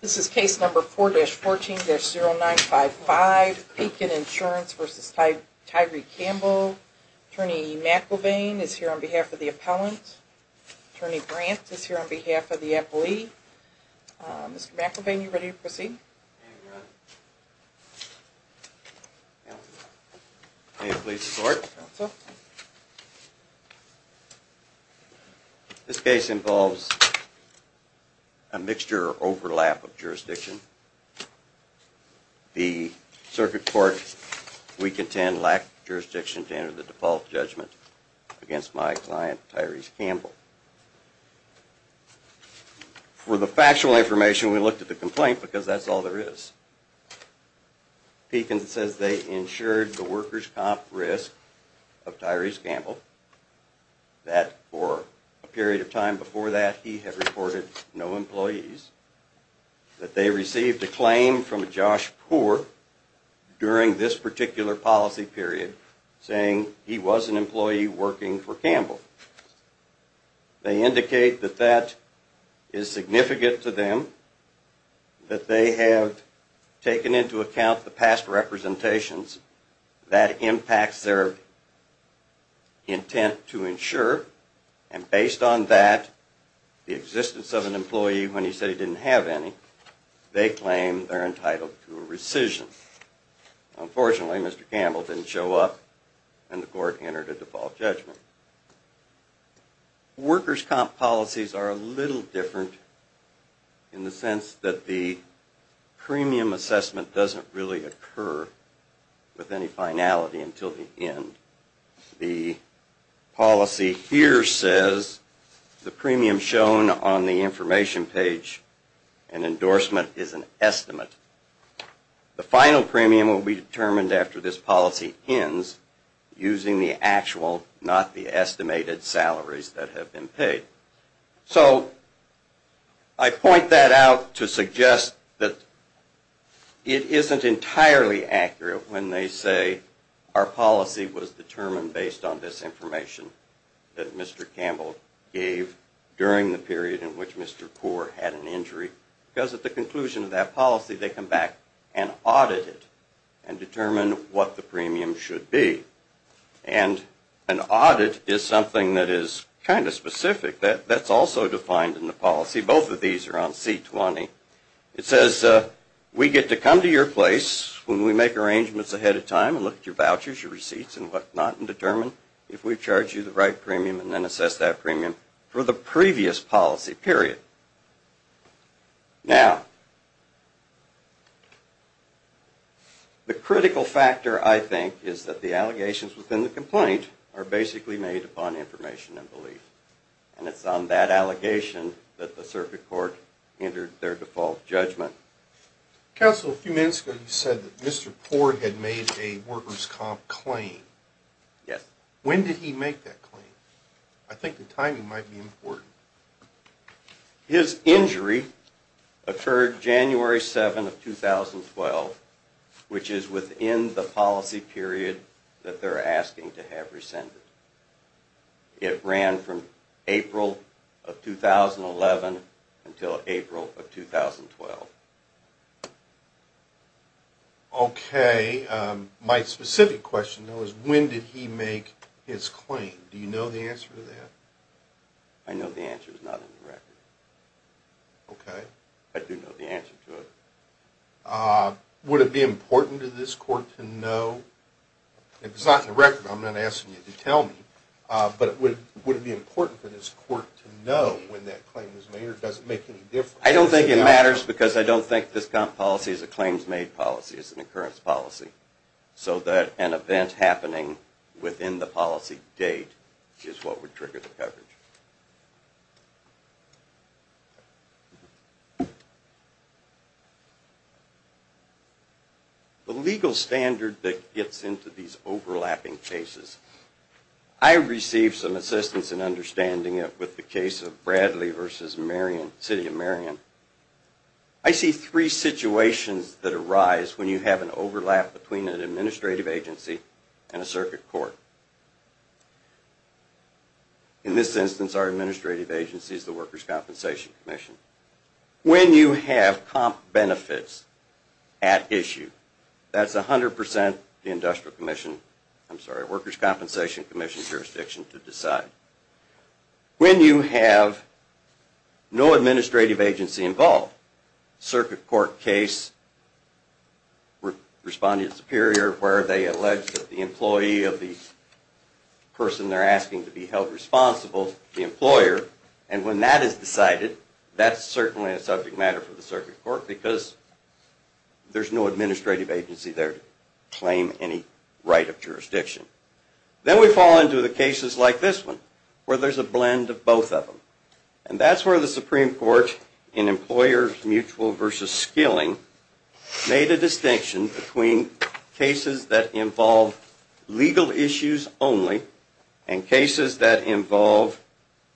This is case number 4-14-0955, Pekin Insurance v. Tyree Campbell. Attorney McIlvaine is here on behalf of the appellant. Attorney Brant is here on behalf of the appellee. Mr. McIlvaine, are you ready to proceed? May it please the court. This case involves a mixture or overlap of jurisdiction. The circuit court we contend lacked jurisdiction to enter the default judgment against my client Tyree Campbell. For the factual information, we looked at the complaint because that's all there is. Pekin says they insured the workers' comp risk of Tyree Campbell. That for a period of time before that, he had reported no employees. That they received a claim from Josh Poore during this particular policy period saying he was an employee working for Campbell. They indicate that that is significant to them. That they have taken into account the past representations. That impacts their intent to insure. And based on that, the existence of an employee when he said he didn't have any, they claim they're entitled to a rescission. Unfortunately, Mr. Campbell didn't show up and the court entered a default judgment. Workers' comp policies are a little different in the sense that the premium assessment doesn't really occur with any finality until the end. The policy here says the premium shown on the information page and endorsement is an estimate. The final premium will be determined after this policy ends using the actual, not the estimated salaries that have been paid. So I point that out to suggest that it isn't entirely accurate when they say our policy was determined based on this information that Mr. Campbell gave during the period in which Mr. Poore had an injury. Because at the conclusion of that policy, they come back and audit it and determine what the premium should be. And an audit is something that is kind of specific. That's also defined in the policy. Both of these are on C20. It says we get to come to your place when we make arrangements ahead of time and look at your vouchers, your receipts, and what not, and determine if we charge you the right premium and then assess that premium for the previous policy period. Now, the critical factor, I think, is that the allegations within the complaint are basically made upon information and belief. And it's on that allegation that the circuit court entered their default judgment. Counsel, a few minutes ago you said that Mr. Poore had made a workers' comp claim. Yes. When did he make that claim? I think the timing might be important. His injury occurred January 7 of 2012, which is within the policy period that they're asking to have rescinded. It ran from April of 2011 until April of 2012. Okay. My specific question, though, is when did he make his claim? Do you know the answer to that? I know the answer is not in the record. Okay. I do know the answer to it. Would it be important to this court to know? It's not in the record. I'm not asking you to tell me. But would it be important for this court to know when that claim was made, or does it make any difference? I don't think it matters because I don't think this policy is a claims-made policy. It's an occurrence policy. So that an event happening within the policy date is what would trigger the coverage. The legal standard that gets into these overlapping cases, I received some assistance in understanding it with the case of Bradley v. City of Marion. I see three situations that arise when you have an overlap between an administrative agency and a circuit court. For instance, our administrative agency is the Workers' Compensation Commission. When you have comp benefits at issue, that's 100% the Workers' Compensation Commission jurisdiction to decide. When you have no administrative agency involved, a circuit court case, Responding to the Superior, where they allege that the employee of the person they're asking to be held responsible, the employer, and when that is decided, that's certainly a subject matter for the circuit court because there's no administrative agency there to claim any right of jurisdiction. Then we fall into the cases like this one, where there's a blend of both of them. And that's where the Supreme Court in Employers Mutual v. Skilling made a distinction between cases that involve legal issues only and cases that involve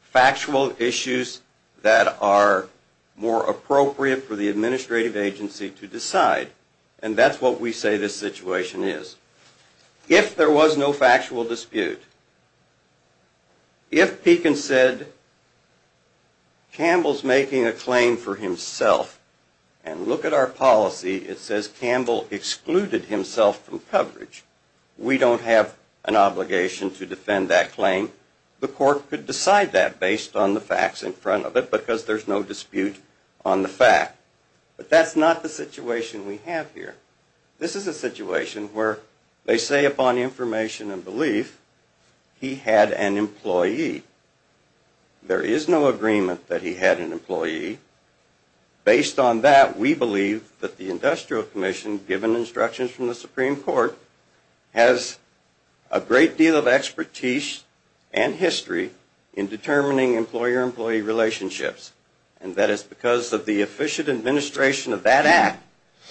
factual issues that are more appropriate for the administrative agency to decide. And that's what we say this situation is. If there was no factual dispute, if Pekin said, Campbell's making a claim for himself, and look at our policy, it says Campbell excluded himself from coverage, we don't have an obligation to defend that claim. The court could decide that based on the facts in front of it because there's no dispute on the fact. But that's not the situation we have here. This is a situation where they say upon information and belief, he had an employee. There is no agreement that he had an employee. Based on that, we believe that the Industrial Commission, given instructions from the Supreme Court, has a great deal of expertise and history in determining employer-employee relationships. And that is because of the efficient administration of that act,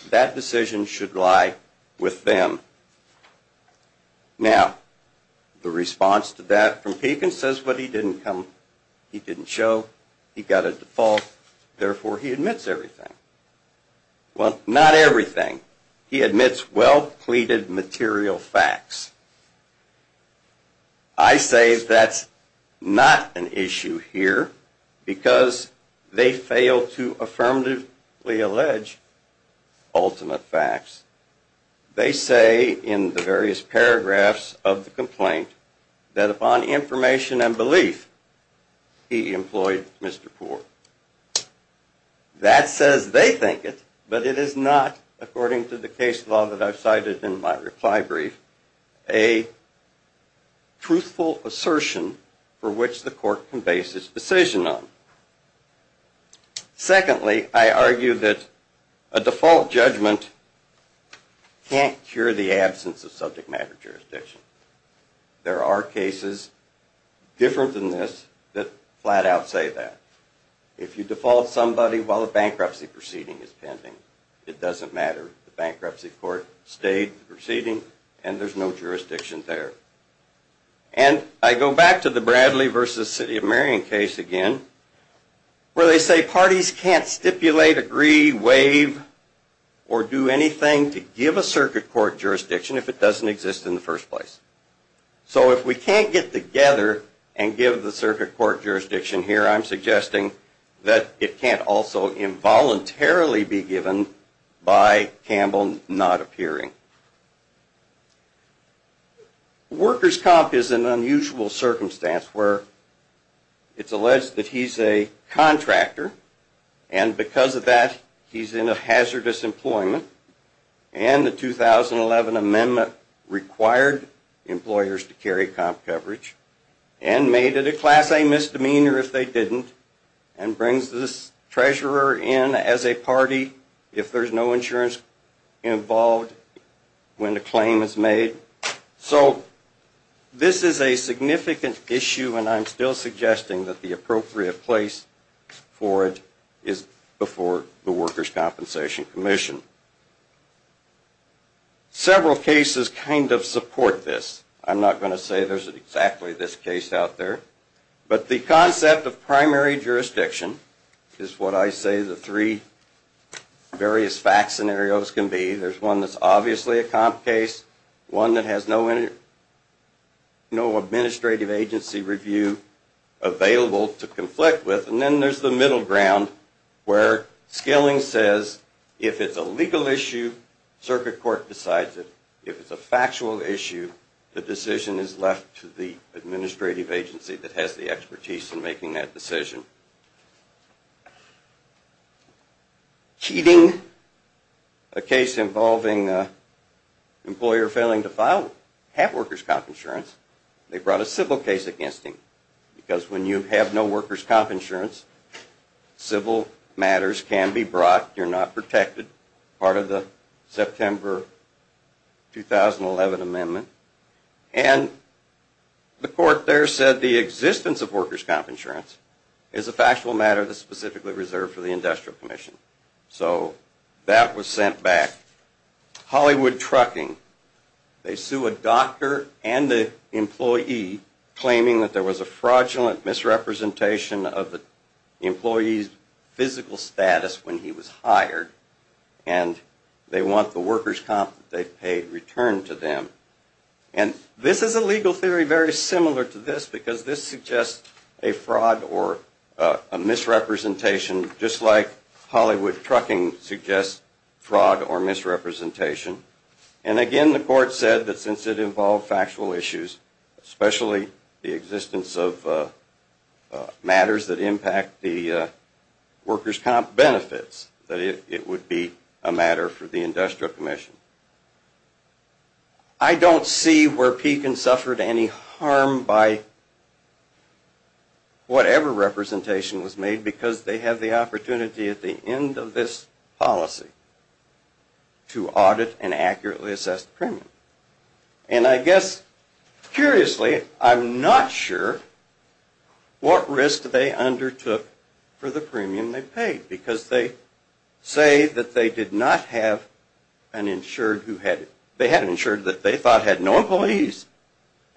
that decision should lie with them. Now, the response to that from Pekin says, but he didn't come, he didn't show, he got a default, therefore he admits everything. Well, not everything. He admits well-pleated material facts. I say that's not an issue here because they fail to affirmatively allege ultimate facts. They say in the various paragraphs of the complaint that upon information and belief, he employed Mr. Poor. That says they think it, but it is not, according to the case law that I've cited in my reply brief, a truthful assertion for which the court can base its decision on. Secondly, I argue that a default judgment can't cure the absence of subject matter jurisdiction. There are cases different than this that flat out say that. If you default somebody while a bankruptcy proceeding is pending, it doesn't matter. The bankruptcy court stayed the proceeding, and there's no jurisdiction there. And I go back to the Bradley versus City of Marion case again, where they say parties can't stipulate, agree, waive, or do anything to give a circuit court jurisdiction if it doesn't exist in the first place. So if we can't get together and give the circuit court jurisdiction here, I'm suggesting that it can't also involuntarily be given by Campbell not appearing. Workers' comp is an unusual circumstance where it's alleged that he's a contractor, and because of that, he's in hazardous employment, and the 2011 amendment required employers to carry comp coverage and made it a class A misdemeanor if they didn't, and brings this treasurer in as a party if there's no insurance involved when the claim is made. So this is a significant issue, and I'm still suggesting that the appropriate place for it is before the Workers' Compensation Commission. Several cases kind of support this. I'm not going to say there's exactly this case out there, but the concept of primary jurisdiction is what I say the three various fact scenarios can be. There's one that's obviously a comp case, one that has no administrative agency review available to conflict with, and then there's the middle ground where Skilling says if it's a legal issue, circuit court decides it. If it's a factual issue, the decision is left to the administrative agency that has the expertise in making that decision. Keating, a case involving an employer failing to have workers' comp insurance, they brought a civil case against him, because when you have no workers' comp insurance, civil matters can be brought. You're not protected, part of the September 2011 amendment, and the court there said the existence of workers' comp insurance is a factual matter that's specifically reserved for the Industrial Commission. So that was sent back. Hollywood Trucking, they sue a doctor and an employee claiming that there was a fraudulent misrepresentation of the employee's physical status when he was hired, and they want the workers' comp that they paid returned to them. And this is a legal theory very similar to this, because this suggests a fraud or a misrepresentation, just like Hollywood Trucking suggests fraud or misrepresentation. And again, the court said that since it involved factual issues, especially the existence of matters that impact the workers' comp benefits, that it would be a matter for the Industrial Commission. I don't see where Pekin suffered any harm by whatever representation was made, because they have the opportunity at the end of this policy to audit and accurately assess the premium. And I guess, curiously, I'm not sure what risk they undertook for the premium they paid, because they say that they had an insured that they thought had no employees,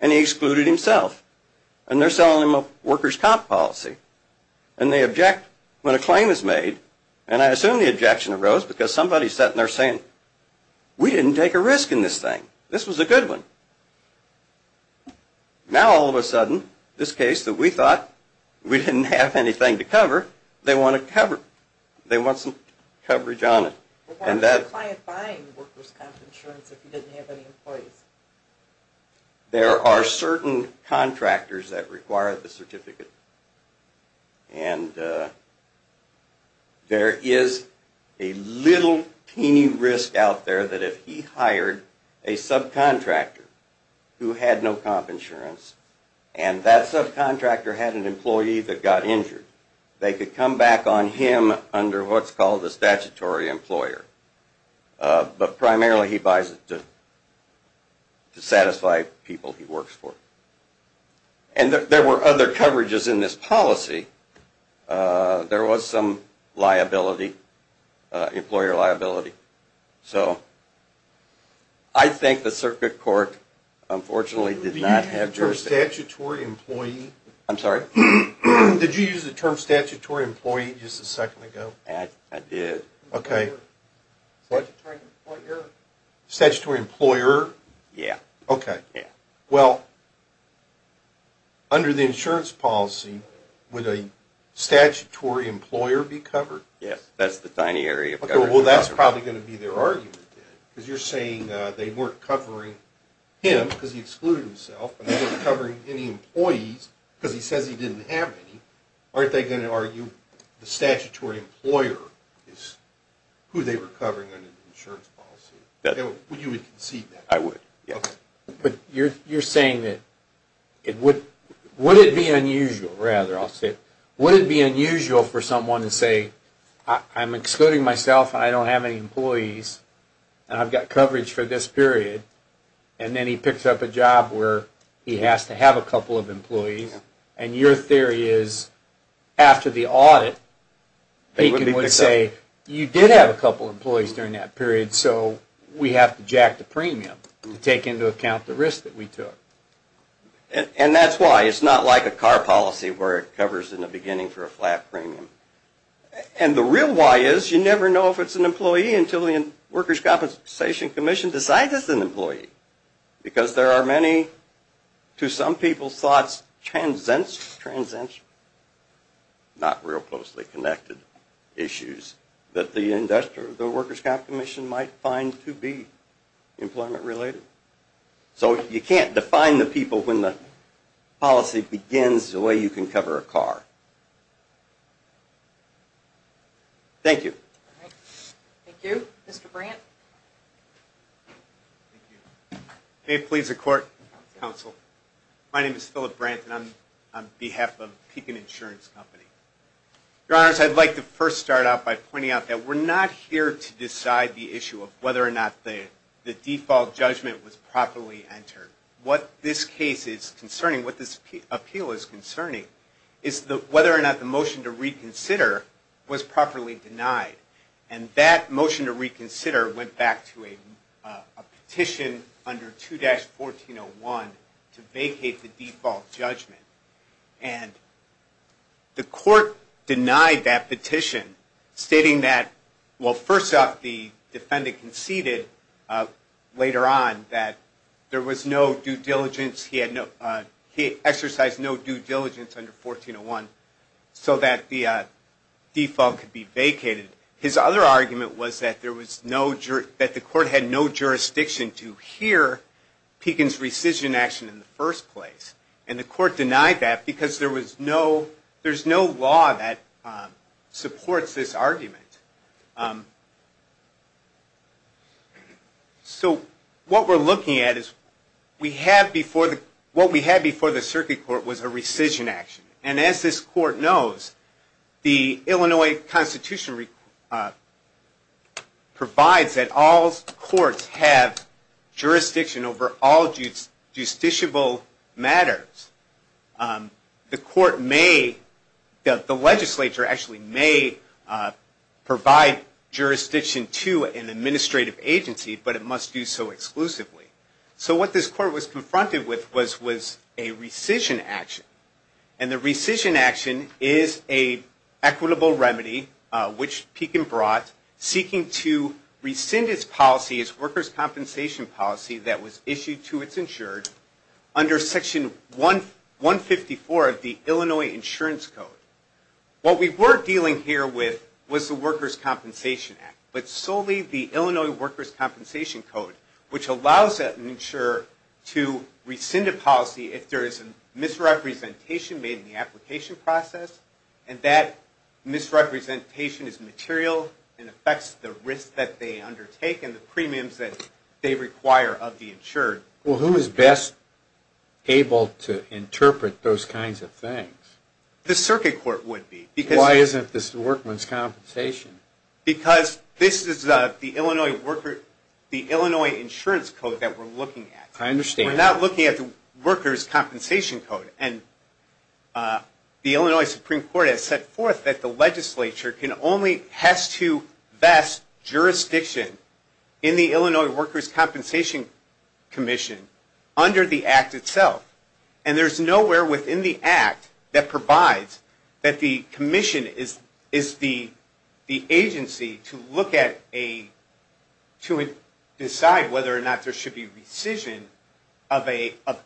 and he excluded himself. And they're selling him a workers' comp policy. And they object when a claim is made, and I assume the objection arose because somebody sat in there saying, we didn't take a risk in this thing. This was a good one. Now all of a sudden, this case that we thought we didn't have anything to cover, they want to cover it. They want some coverage on it. Why was the client buying the workers' comp insurance if he didn't have any employees? There are certain contractors that require the certificate. And there is a little teeny risk out there that if he hired a subcontractor who had no comp insurance, and that subcontractor had an employee that got injured, they could come back on him under what's called a statutory employer. But primarily he buys it to satisfy people he works for. And there were other coverages in this policy. There was some liability, employer liability. So I think the circuit court, unfortunately, did not have jurisdiction. Did you use the term statutory employee just a second ago? I did. Okay. What? Statutory employer? Yeah. Okay. Yeah. Well, under the insurance policy, would a statutory employer be covered? Yes. That's the tiny area. Well, that's probably going to be their argument, because you're saying they weren't covering him because he excluded himself, but they weren't covering any employees because he says he didn't have any. Aren't they going to argue the statutory employer is who they were covering under the insurance policy? Would you concede that? I would, yes. Okay. But you're saying that it would be unusual, rather, I'll say, would it be unusual for someone to say, I'm excluding myself and I don't have any employees and I've got coverage for this period, and then he picks up a job where he has to have a couple of employees. And your theory is after the audit, Bacon would say you did have a couple of employees during that period, so we have to jack the premium to take into account the risk that we took. And that's why it's not like a car policy where it covers in the beginning for a flat premium. And the real why is you never know if it's an employee until the Workers' Compensation Commission decides it's an employee, because there are many, to some people's thoughts, transcendent, not real closely connected issues, that the Workers' Compensation Commission might find to be employment related. So you can't define the people when the policy begins the way you can cover a car. Thank you. Thank you. Mr. Brandt. May it please the Court, Counsel, my name is Philip Brandt and I'm on behalf of Pecan Insurance Company. Your Honors, I'd like to first start out by pointing out that we're not here to decide the issue of whether or not the default judgment was properly entered. What this case is concerning, what this appeal is concerning, is whether or not the motion to reconsider was properly denied. And that motion to reconsider went back to a petition under 2-1401 to vacate the default judgment. And the Court denied that petition, stating that, well, first off, the defendant conceded later on that there was no due diligence, he exercised no due diligence under 2-1401, so that the default could be vacated. His other argument was that the Court had no jurisdiction to hear Pecan's rescission action in the first place. And the Court denied that because there's no law that supports this argument. So what we're looking at is, what we had before the Circuit Court was a rescission action. And as this Court knows, the Illinois Constitution provides that all courts have jurisdiction over all justiciable matters. The legislature actually may provide jurisdiction to an administrative agency, but it must do so exclusively. So what this Court was confronted with was a rescission action. And the rescission action is an equitable remedy, which Pecan brought, seeking to rescind his policy, his workers' compensation policy that was issued to its insured, under Section 154 of the Illinois Insurance Code. What we were dealing here with was the Workers' Compensation Act, but solely the Illinois Workers' Compensation Code, which allows an insurer to rescind a policy if there is a misrepresentation made in the application process, and that misrepresentation is material and affects the risk that they undertake and the premiums that they require of the insured. Well, who is best able to interpret those kinds of things? The Circuit Court would be. Why isn't this the Worker's Compensation? Because this is the Illinois Insurance Code that we're looking at. I understand. We're not looking at the Workers' Compensation Code. And the Illinois Supreme Court has set forth that the legislature only has to vest jurisdiction in the Illinois Workers' Compensation Commission under the Act itself. And there's nowhere within the Act that provides that the commission is the agency to decide whether or not there should be rescission of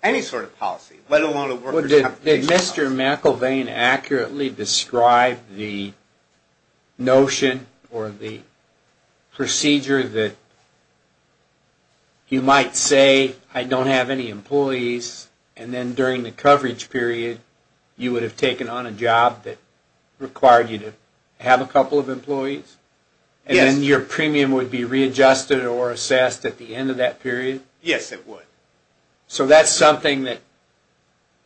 any sort of policy, let alone a Workers' Compensation. Did Mr. McElveen accurately describe the notion or the procedure that you might say, I don't have any employees, and then during the coverage period you would have taken on a job that required you to have a couple of employees? Yes. And then your premium would be readjusted or assessed at the end of that period? Yes, it would. So that's something that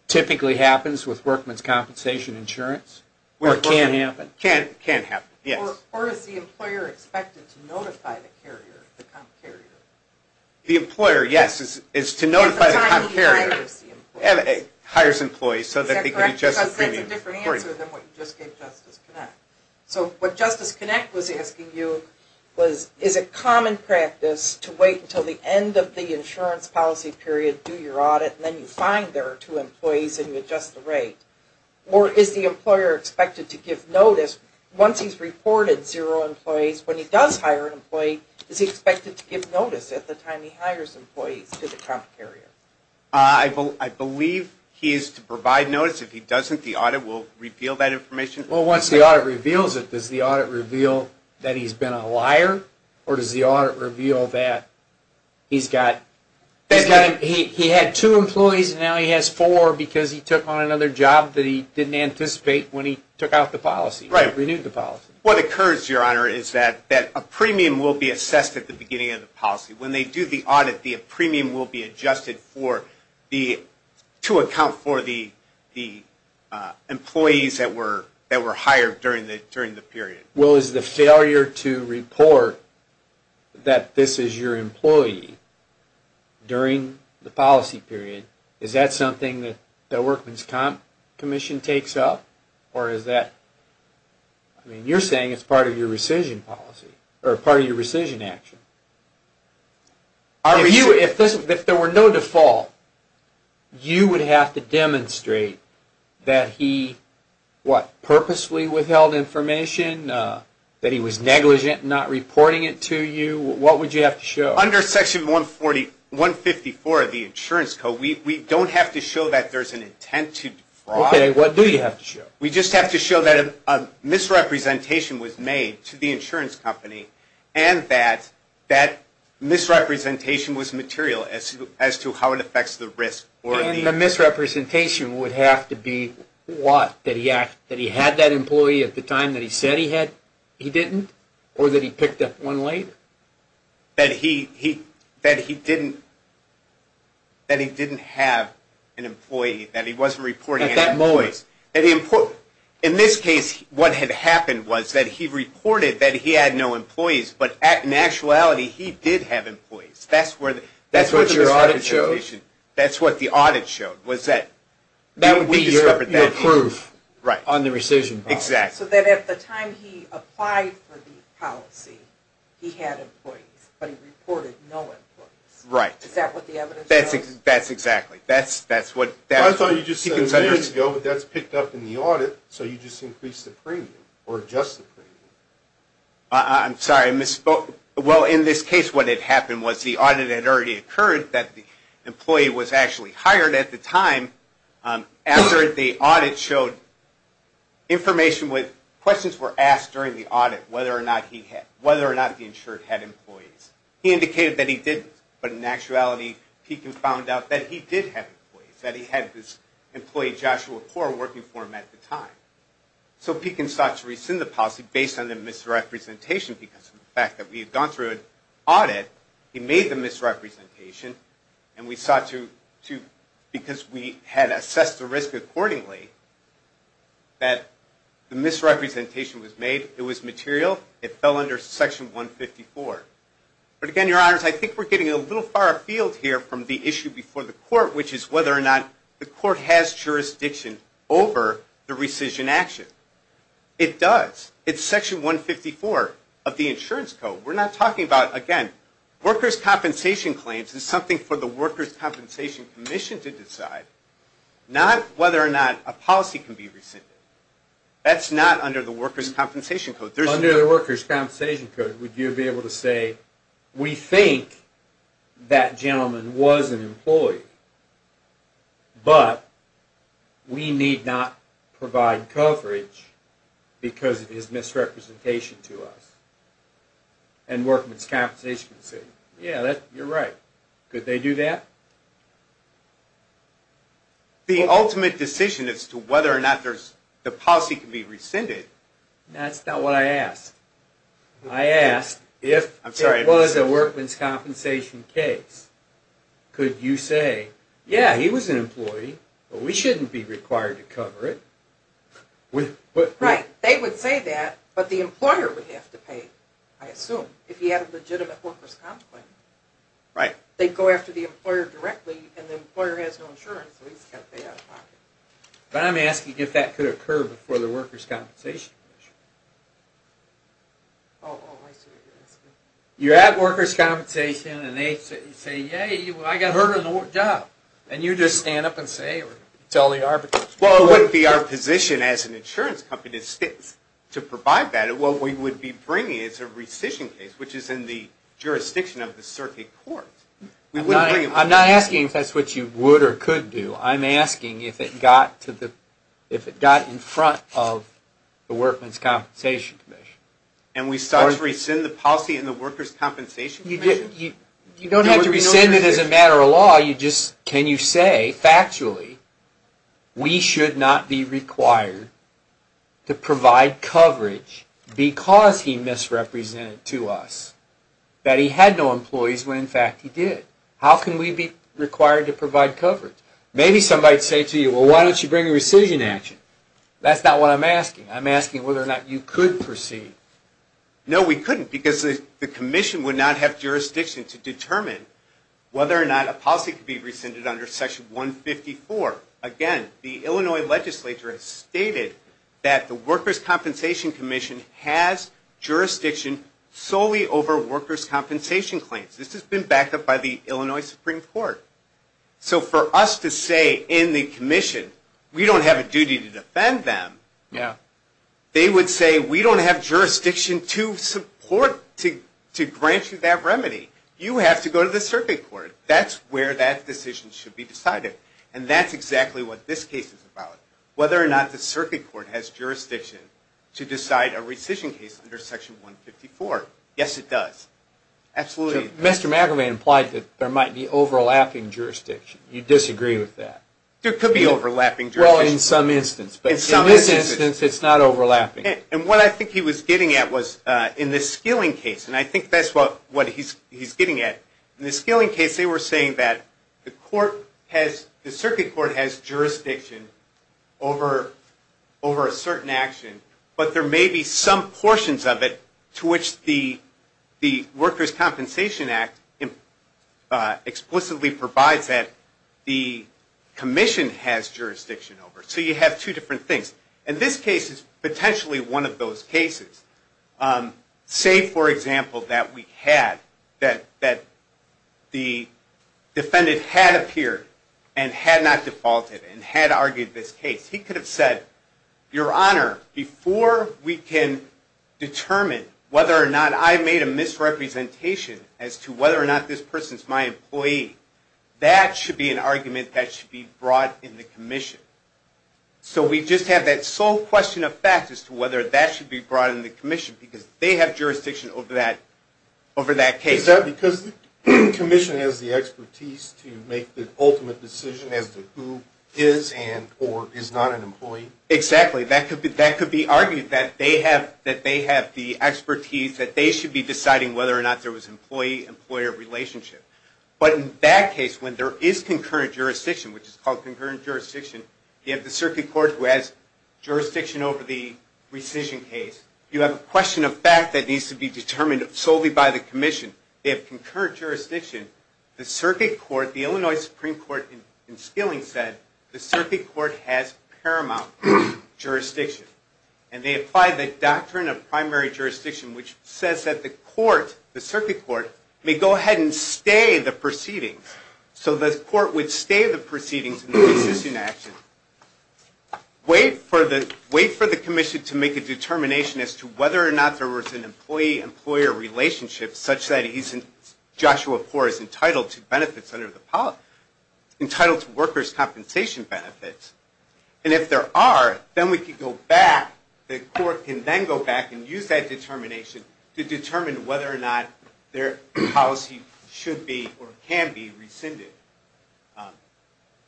typically happens with Worker's Compensation insurance? Or can happen? Can happen, yes. Or is the employer expected to notify the carrier, the comp carrier? The employer, yes, is to notify the comp carrier. At the time he hires the employee. Hires employees so that they can adjust the premium. Is that correct? Because that's a different answer than what you just gave Justice Connect. So what Justice Connect was asking you was, is it common practice to wait until the end of the insurance policy period, do your audit, and then you find there are two employees and you adjust the rate? Or is the employer expected to give notice once he's reported zero employees? When he does hire an employee, is he expected to give notice at the time he hires employees to the comp carrier? I believe he is to provide notice. If he doesn't, the audit will reveal that information. Well, once the audit reveals it, does the audit reveal that he's been a liar? Or does the audit reveal that he's got, he had two employees and now he has four because he took on another job that he didn't anticipate when he took out the policy. Right. Renewed the policy. What occurs, Your Honor, is that a premium will be assessed at the beginning of the policy. When they do the audit, the premium will be adjusted to account for the employees that were hired during the period. Well, is the failure to report that this is your employee during the policy period, is that something that the workman's comp commission takes up? Or is that, I mean, you're saying it's part of your rescission policy, or part of your rescission action. If there were no default, you would have to demonstrate that he, what, purposely withheld information, that he was negligent, not reporting it to you. What would you have to show? Under Section 144 of the Insurance Code, we don't have to show that there's an intent to defraud. Okay. What do you have to show? We just have to show that a misrepresentation was made to the insurance company and that that misrepresentation was material as to how it affects the risk. And the misrepresentation would have to be what? That he had that employee at the time that he said he had? He didn't? Or that he picked up one late? That he didn't have an employee. That he wasn't reporting any employees. At that moment. In this case, what had happened was that he reported that he had no employees, but in actuality, he did have employees. That's what your audit showed? That's what the audit showed. That would be your proof on the rescission policy. Exactly. So that at the time he applied for the policy, he had employees, but he reported no employees. Right. Is that what the evidence shows? That's exactly. I thought you just said a minute ago, but that's picked up in the audit, so you just increased the premium or adjusted the premium. I'm sorry. I misspoke. Well, in this case, what had happened was the audit had already occurred that the employee was actually hired at the time. After the audit showed information with questions were asked during the audit, whether or not the insured had employees. He indicated that he didn't, but in actuality, Pekin found out that he did have employees, that he had this employee, Joshua Core, working for him at the time. So Pekin sought to rescind the policy based on the misrepresentation because of the fact that we had gone through an audit, he made the misrepresentation, and we sought to, because we had assessed the risk accordingly, that the misrepresentation was made. It was material. It fell under Section 154. But, again, Your Honors, I think we're getting a little far afield here from the issue before the court, which is whether or not the court has jurisdiction over the rescission action. It does. It's Section 154 of the Insurance Code. We're not talking about, again, workers' compensation claims. It's something for the Workers' Compensation Commission to decide, not whether or not a policy can be rescinded. That's not under the Workers' Compensation Code. Under the Workers' Compensation Code, would you be able to say, we think that gentleman was an employee, but we need not provide coverage because of his misrepresentation to us, and workmen's compensation can say, yeah, you're right. Could they do that? The ultimate decision as to whether or not the policy can be rescinded. That's not what I asked. I asked if it was a workman's compensation case, could you say, yeah, he was an employee, but we shouldn't be required to cover it. Right. They would say that, but the employer would have to pay, I assume, if he had a legitimate workers' compensation claim. Right. They'd go after the employer directly, and the employer has no insurance, so he's got to pay out of pocket. But I'm asking if that could occur before the workers' compensation measure. Oh, I see what you're asking. You're at workers' compensation, and they say, yeah, I got hurt on the job, and you just stand up and say, or tell the arbiters. Well, it would be our position as an insurance company to provide that. What we would be bringing is a rescission case, which is in the jurisdiction of the circuit court. I'm not asking if that's what you would or could do. I'm asking if it got in front of the Workmen's Compensation Commission. And we start to rescind the policy in the Workers' Compensation Commission? You don't have to rescind it as a matter of law. Can you say factually we should not be required to provide coverage because he misrepresented to us that he had no employees when, in fact, he did? How can we be required to provide coverage? Maybe somebody would say to you, well, why don't you bring a rescission action? That's not what I'm asking. I'm asking whether or not you could proceed. No, we couldn't because the commission would not have jurisdiction to determine whether or not a policy could be rescinded under Section 154. Again, the Illinois legislature has stated that the Workers' Compensation Commission has jurisdiction solely over workers' compensation claims. This has been backed up by the Illinois Supreme Court. So for us to say in the commission we don't have a duty to defend them, they would say we don't have jurisdiction to support, to grant you that remedy. You have to go to the circuit court. That's where that decision should be decided. And that's exactly what this case is about, whether or not the circuit court has jurisdiction to decide a rescission case under Section 154. Yes, it does. Absolutely. Mr. McIver implied that there might be overlapping jurisdiction. You disagree with that? There could be overlapping jurisdiction. Well, in some instance. But in this instance, it's not overlapping. And what I think he was getting at was in the Skilling case, and I think that's what he's getting at. In the Skilling case, they were saying that the circuit court has jurisdiction over a certain action, but there may be some portions of it to which the Workers' Compensation Act explicitly provides that the commission has jurisdiction over. So you have two different things. And this case is potentially one of those cases. Say, for example, that the defendant had appeared and had not defaulted and had argued this case. He could have said, Your Honor, before we can determine whether or not I made a misrepresentation as to whether or not this person is my employee, that should be an argument that should be brought in the commission. So we just have that sole question of fact as to whether that should be brought in the commission because they have jurisdiction over that case. Is that because the commission has the expertise to make the ultimate decision as to who is and or is not an employee? Exactly. That could be argued that they have the expertise that they should be deciding whether or not there was an employee-employer relationship. But in that case, when there is concurrent jurisdiction, which is called concurrent jurisdiction, you have the circuit court who has jurisdiction over the rescission case. You have a question of fact that needs to be determined solely by the commission. They have concurrent jurisdiction. The circuit court, the Illinois Supreme Court in Skilling said, the circuit court has paramount jurisdiction. And they apply the doctrine of primary jurisdiction, which says that the court, the circuit court, may go ahead and stay the proceedings. So the court would stay the proceedings in the rescission action, wait for the commission to make a determination as to whether or not there was an employee-employer relationship, such that Joshua Poore is entitled to benefits under the policy, entitled to workers' compensation benefits. And if there are, then we could go back, the court can then go back and use that determination to determine whether or not their policy should be or can be rescinded.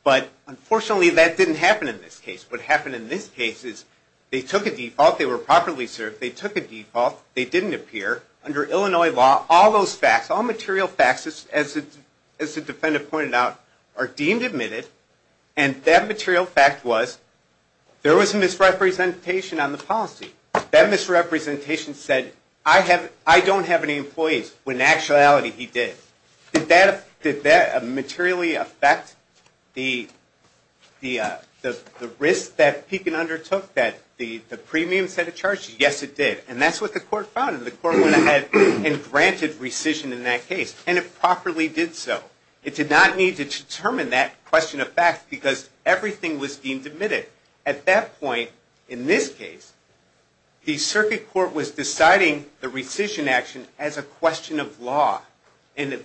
But unfortunately, that didn't happen in this case. What happened in this case is they took a default, they were properly served, they took a default, they didn't appear. Under Illinois law, all those facts, all material facts, as the defendant pointed out, are deemed admitted. And that material fact was there was a misrepresentation on the policy. That misrepresentation said, I don't have any employees, when in actuality he did. Did that materially affect the risk that Pekin undertook, that the premium set a charge? Yes, it did. And that's what the court found. And the court went ahead and granted rescission in that case. And it properly did so. It did not need to determine that question of facts, because everything was deemed admitted. At that point, in this case, the circuit court was deciding the rescission action as a question of law. And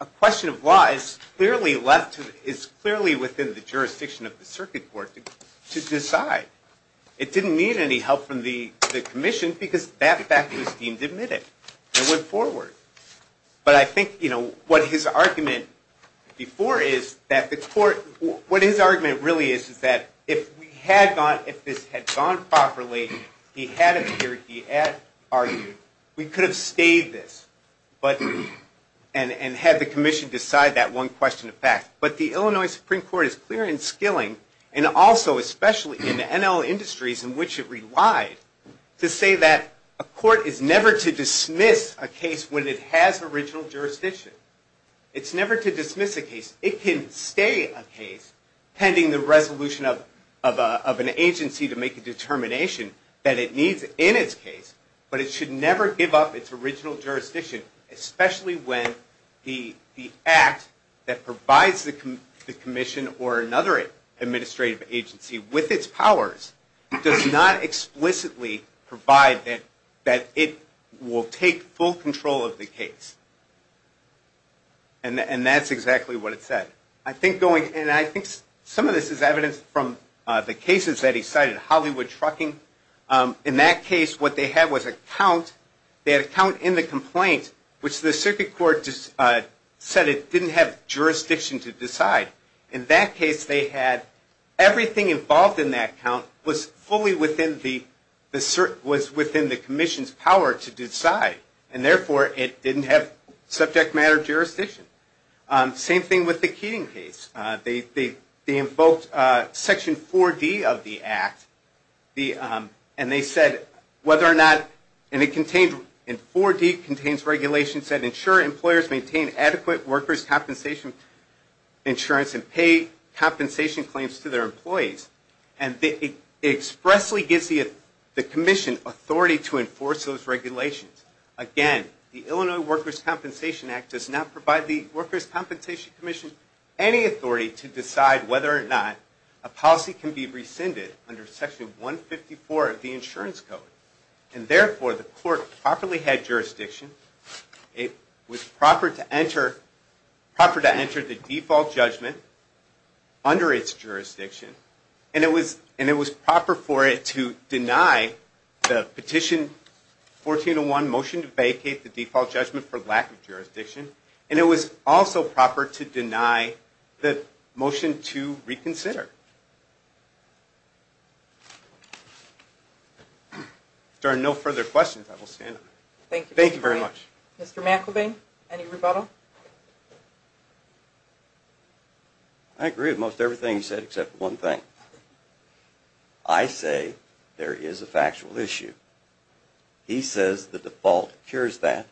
a question of law is clearly within the jurisdiction of the circuit court to decide. It didn't need any help from the commission, because that fact was deemed admitted. It went forward. But I think what his argument before is that the court, what his argument really is, is that if this had gone properly, he had appeared, he had argued, we could have stayed this, and had the commission decide that one question of facts. But the Illinois Supreme Court is clear in skilling, and also especially in the NL industries in which it relied, to say that a court is never to dismiss a case when it has original jurisdiction. It's never to dismiss a case. It can stay a case pending the resolution of an agency to make a determination that it needs in its case, but it should never give up its original jurisdiction, especially when the act that provides the commission or another administrative agency with its powers does not explicitly provide that it will take full control of the case. And that's exactly what it said. And I think some of this is evidence from the cases that he cited, Hollywood trucking. In that case, what they had was a count. They had a count in the complaint, which the circuit court said it didn't have jurisdiction to decide. In that case, they had everything involved in that count was fully within the commission's power to decide, and therefore it didn't have subject matter jurisdiction. Same thing with the Keating case. They invoked Section 4D of the act, and they said whether or not, and 4D contains regulations that ensure employers maintain adequate workers' compensation insurance and pay compensation claims to their employees. And it expressly gives the commission authority to enforce those regulations. Again, the Illinois Workers' Compensation Act does not provide the Workers' Compensation Commission any authority to decide whether or not a policy can be rescinded under Section 154 of the insurance code. And therefore, the court properly had jurisdiction. It was proper to enter the default judgment under its jurisdiction, and it was proper for it to deny the petition 1401 motion to vacate the default judgment for lack of jurisdiction. And it was also proper to deny the motion to reconsider. If there are no further questions, I will stand up. Thank you. Thank you very much. Mr. McElveen, any rebuttal? I agree with most everything you said except one thing. I say there is a factual issue. He says the default cures that.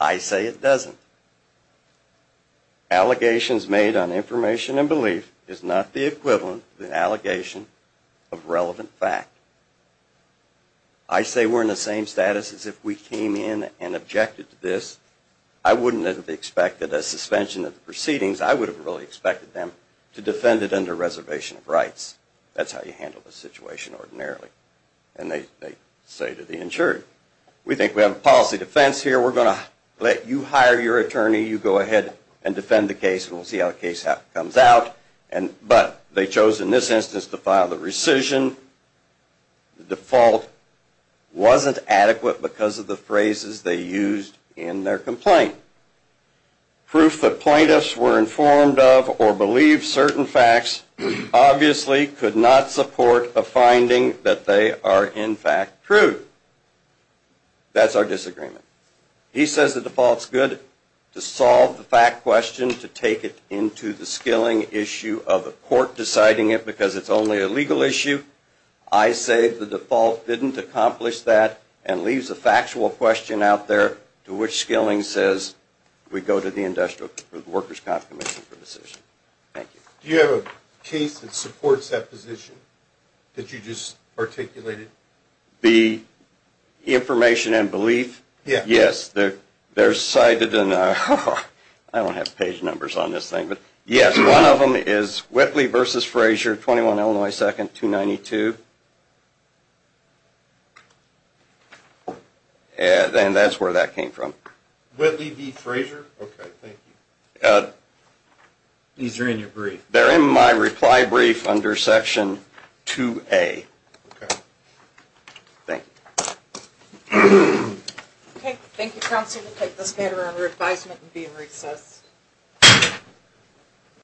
I say it doesn't. Allegations made on information and belief is not the equivalent of an allegation of relevant fact. I say we're in the same status as if we came in and objected to this. I wouldn't have expected a suspension of the proceedings. I would have really expected them to defend it under reservation of rights. That's how you handle the situation ordinarily. And they say to the insurer, we think we have a policy defense here. We're going to let you hire your attorney. You go ahead and defend the case, and we'll see how the case comes out. But they chose in this instance to file the rescission. The default wasn't adequate because of the phrases they used in their complaint. Proof that plaintiffs were informed of or believed certain facts obviously could not support a finding that they are in fact true. That's our disagreement. He says the default is good to solve the fact question, to take it into the skilling issue of a court deciding it because it's only a legal issue. I say the default didn't accomplish that and leaves a factual question out there to which skilling says we go to the Industrial Workers' Comp Commission for a decision. Thank you. Do you have a case that supports that position that you just articulated? The information and belief? Yes. They're cited in the – I don't have page numbers on this thing. Yes, one of them is Whitley v. Frazier, 21 Illinois 2nd, 292. And that's where that came from. Whitley v. Frazier? Okay, thank you. These are in your brief. They're in my reply brief under section 2A. Okay. Thank you. Thank you, counsel. I'm going to take this matter under advisement and be in recess.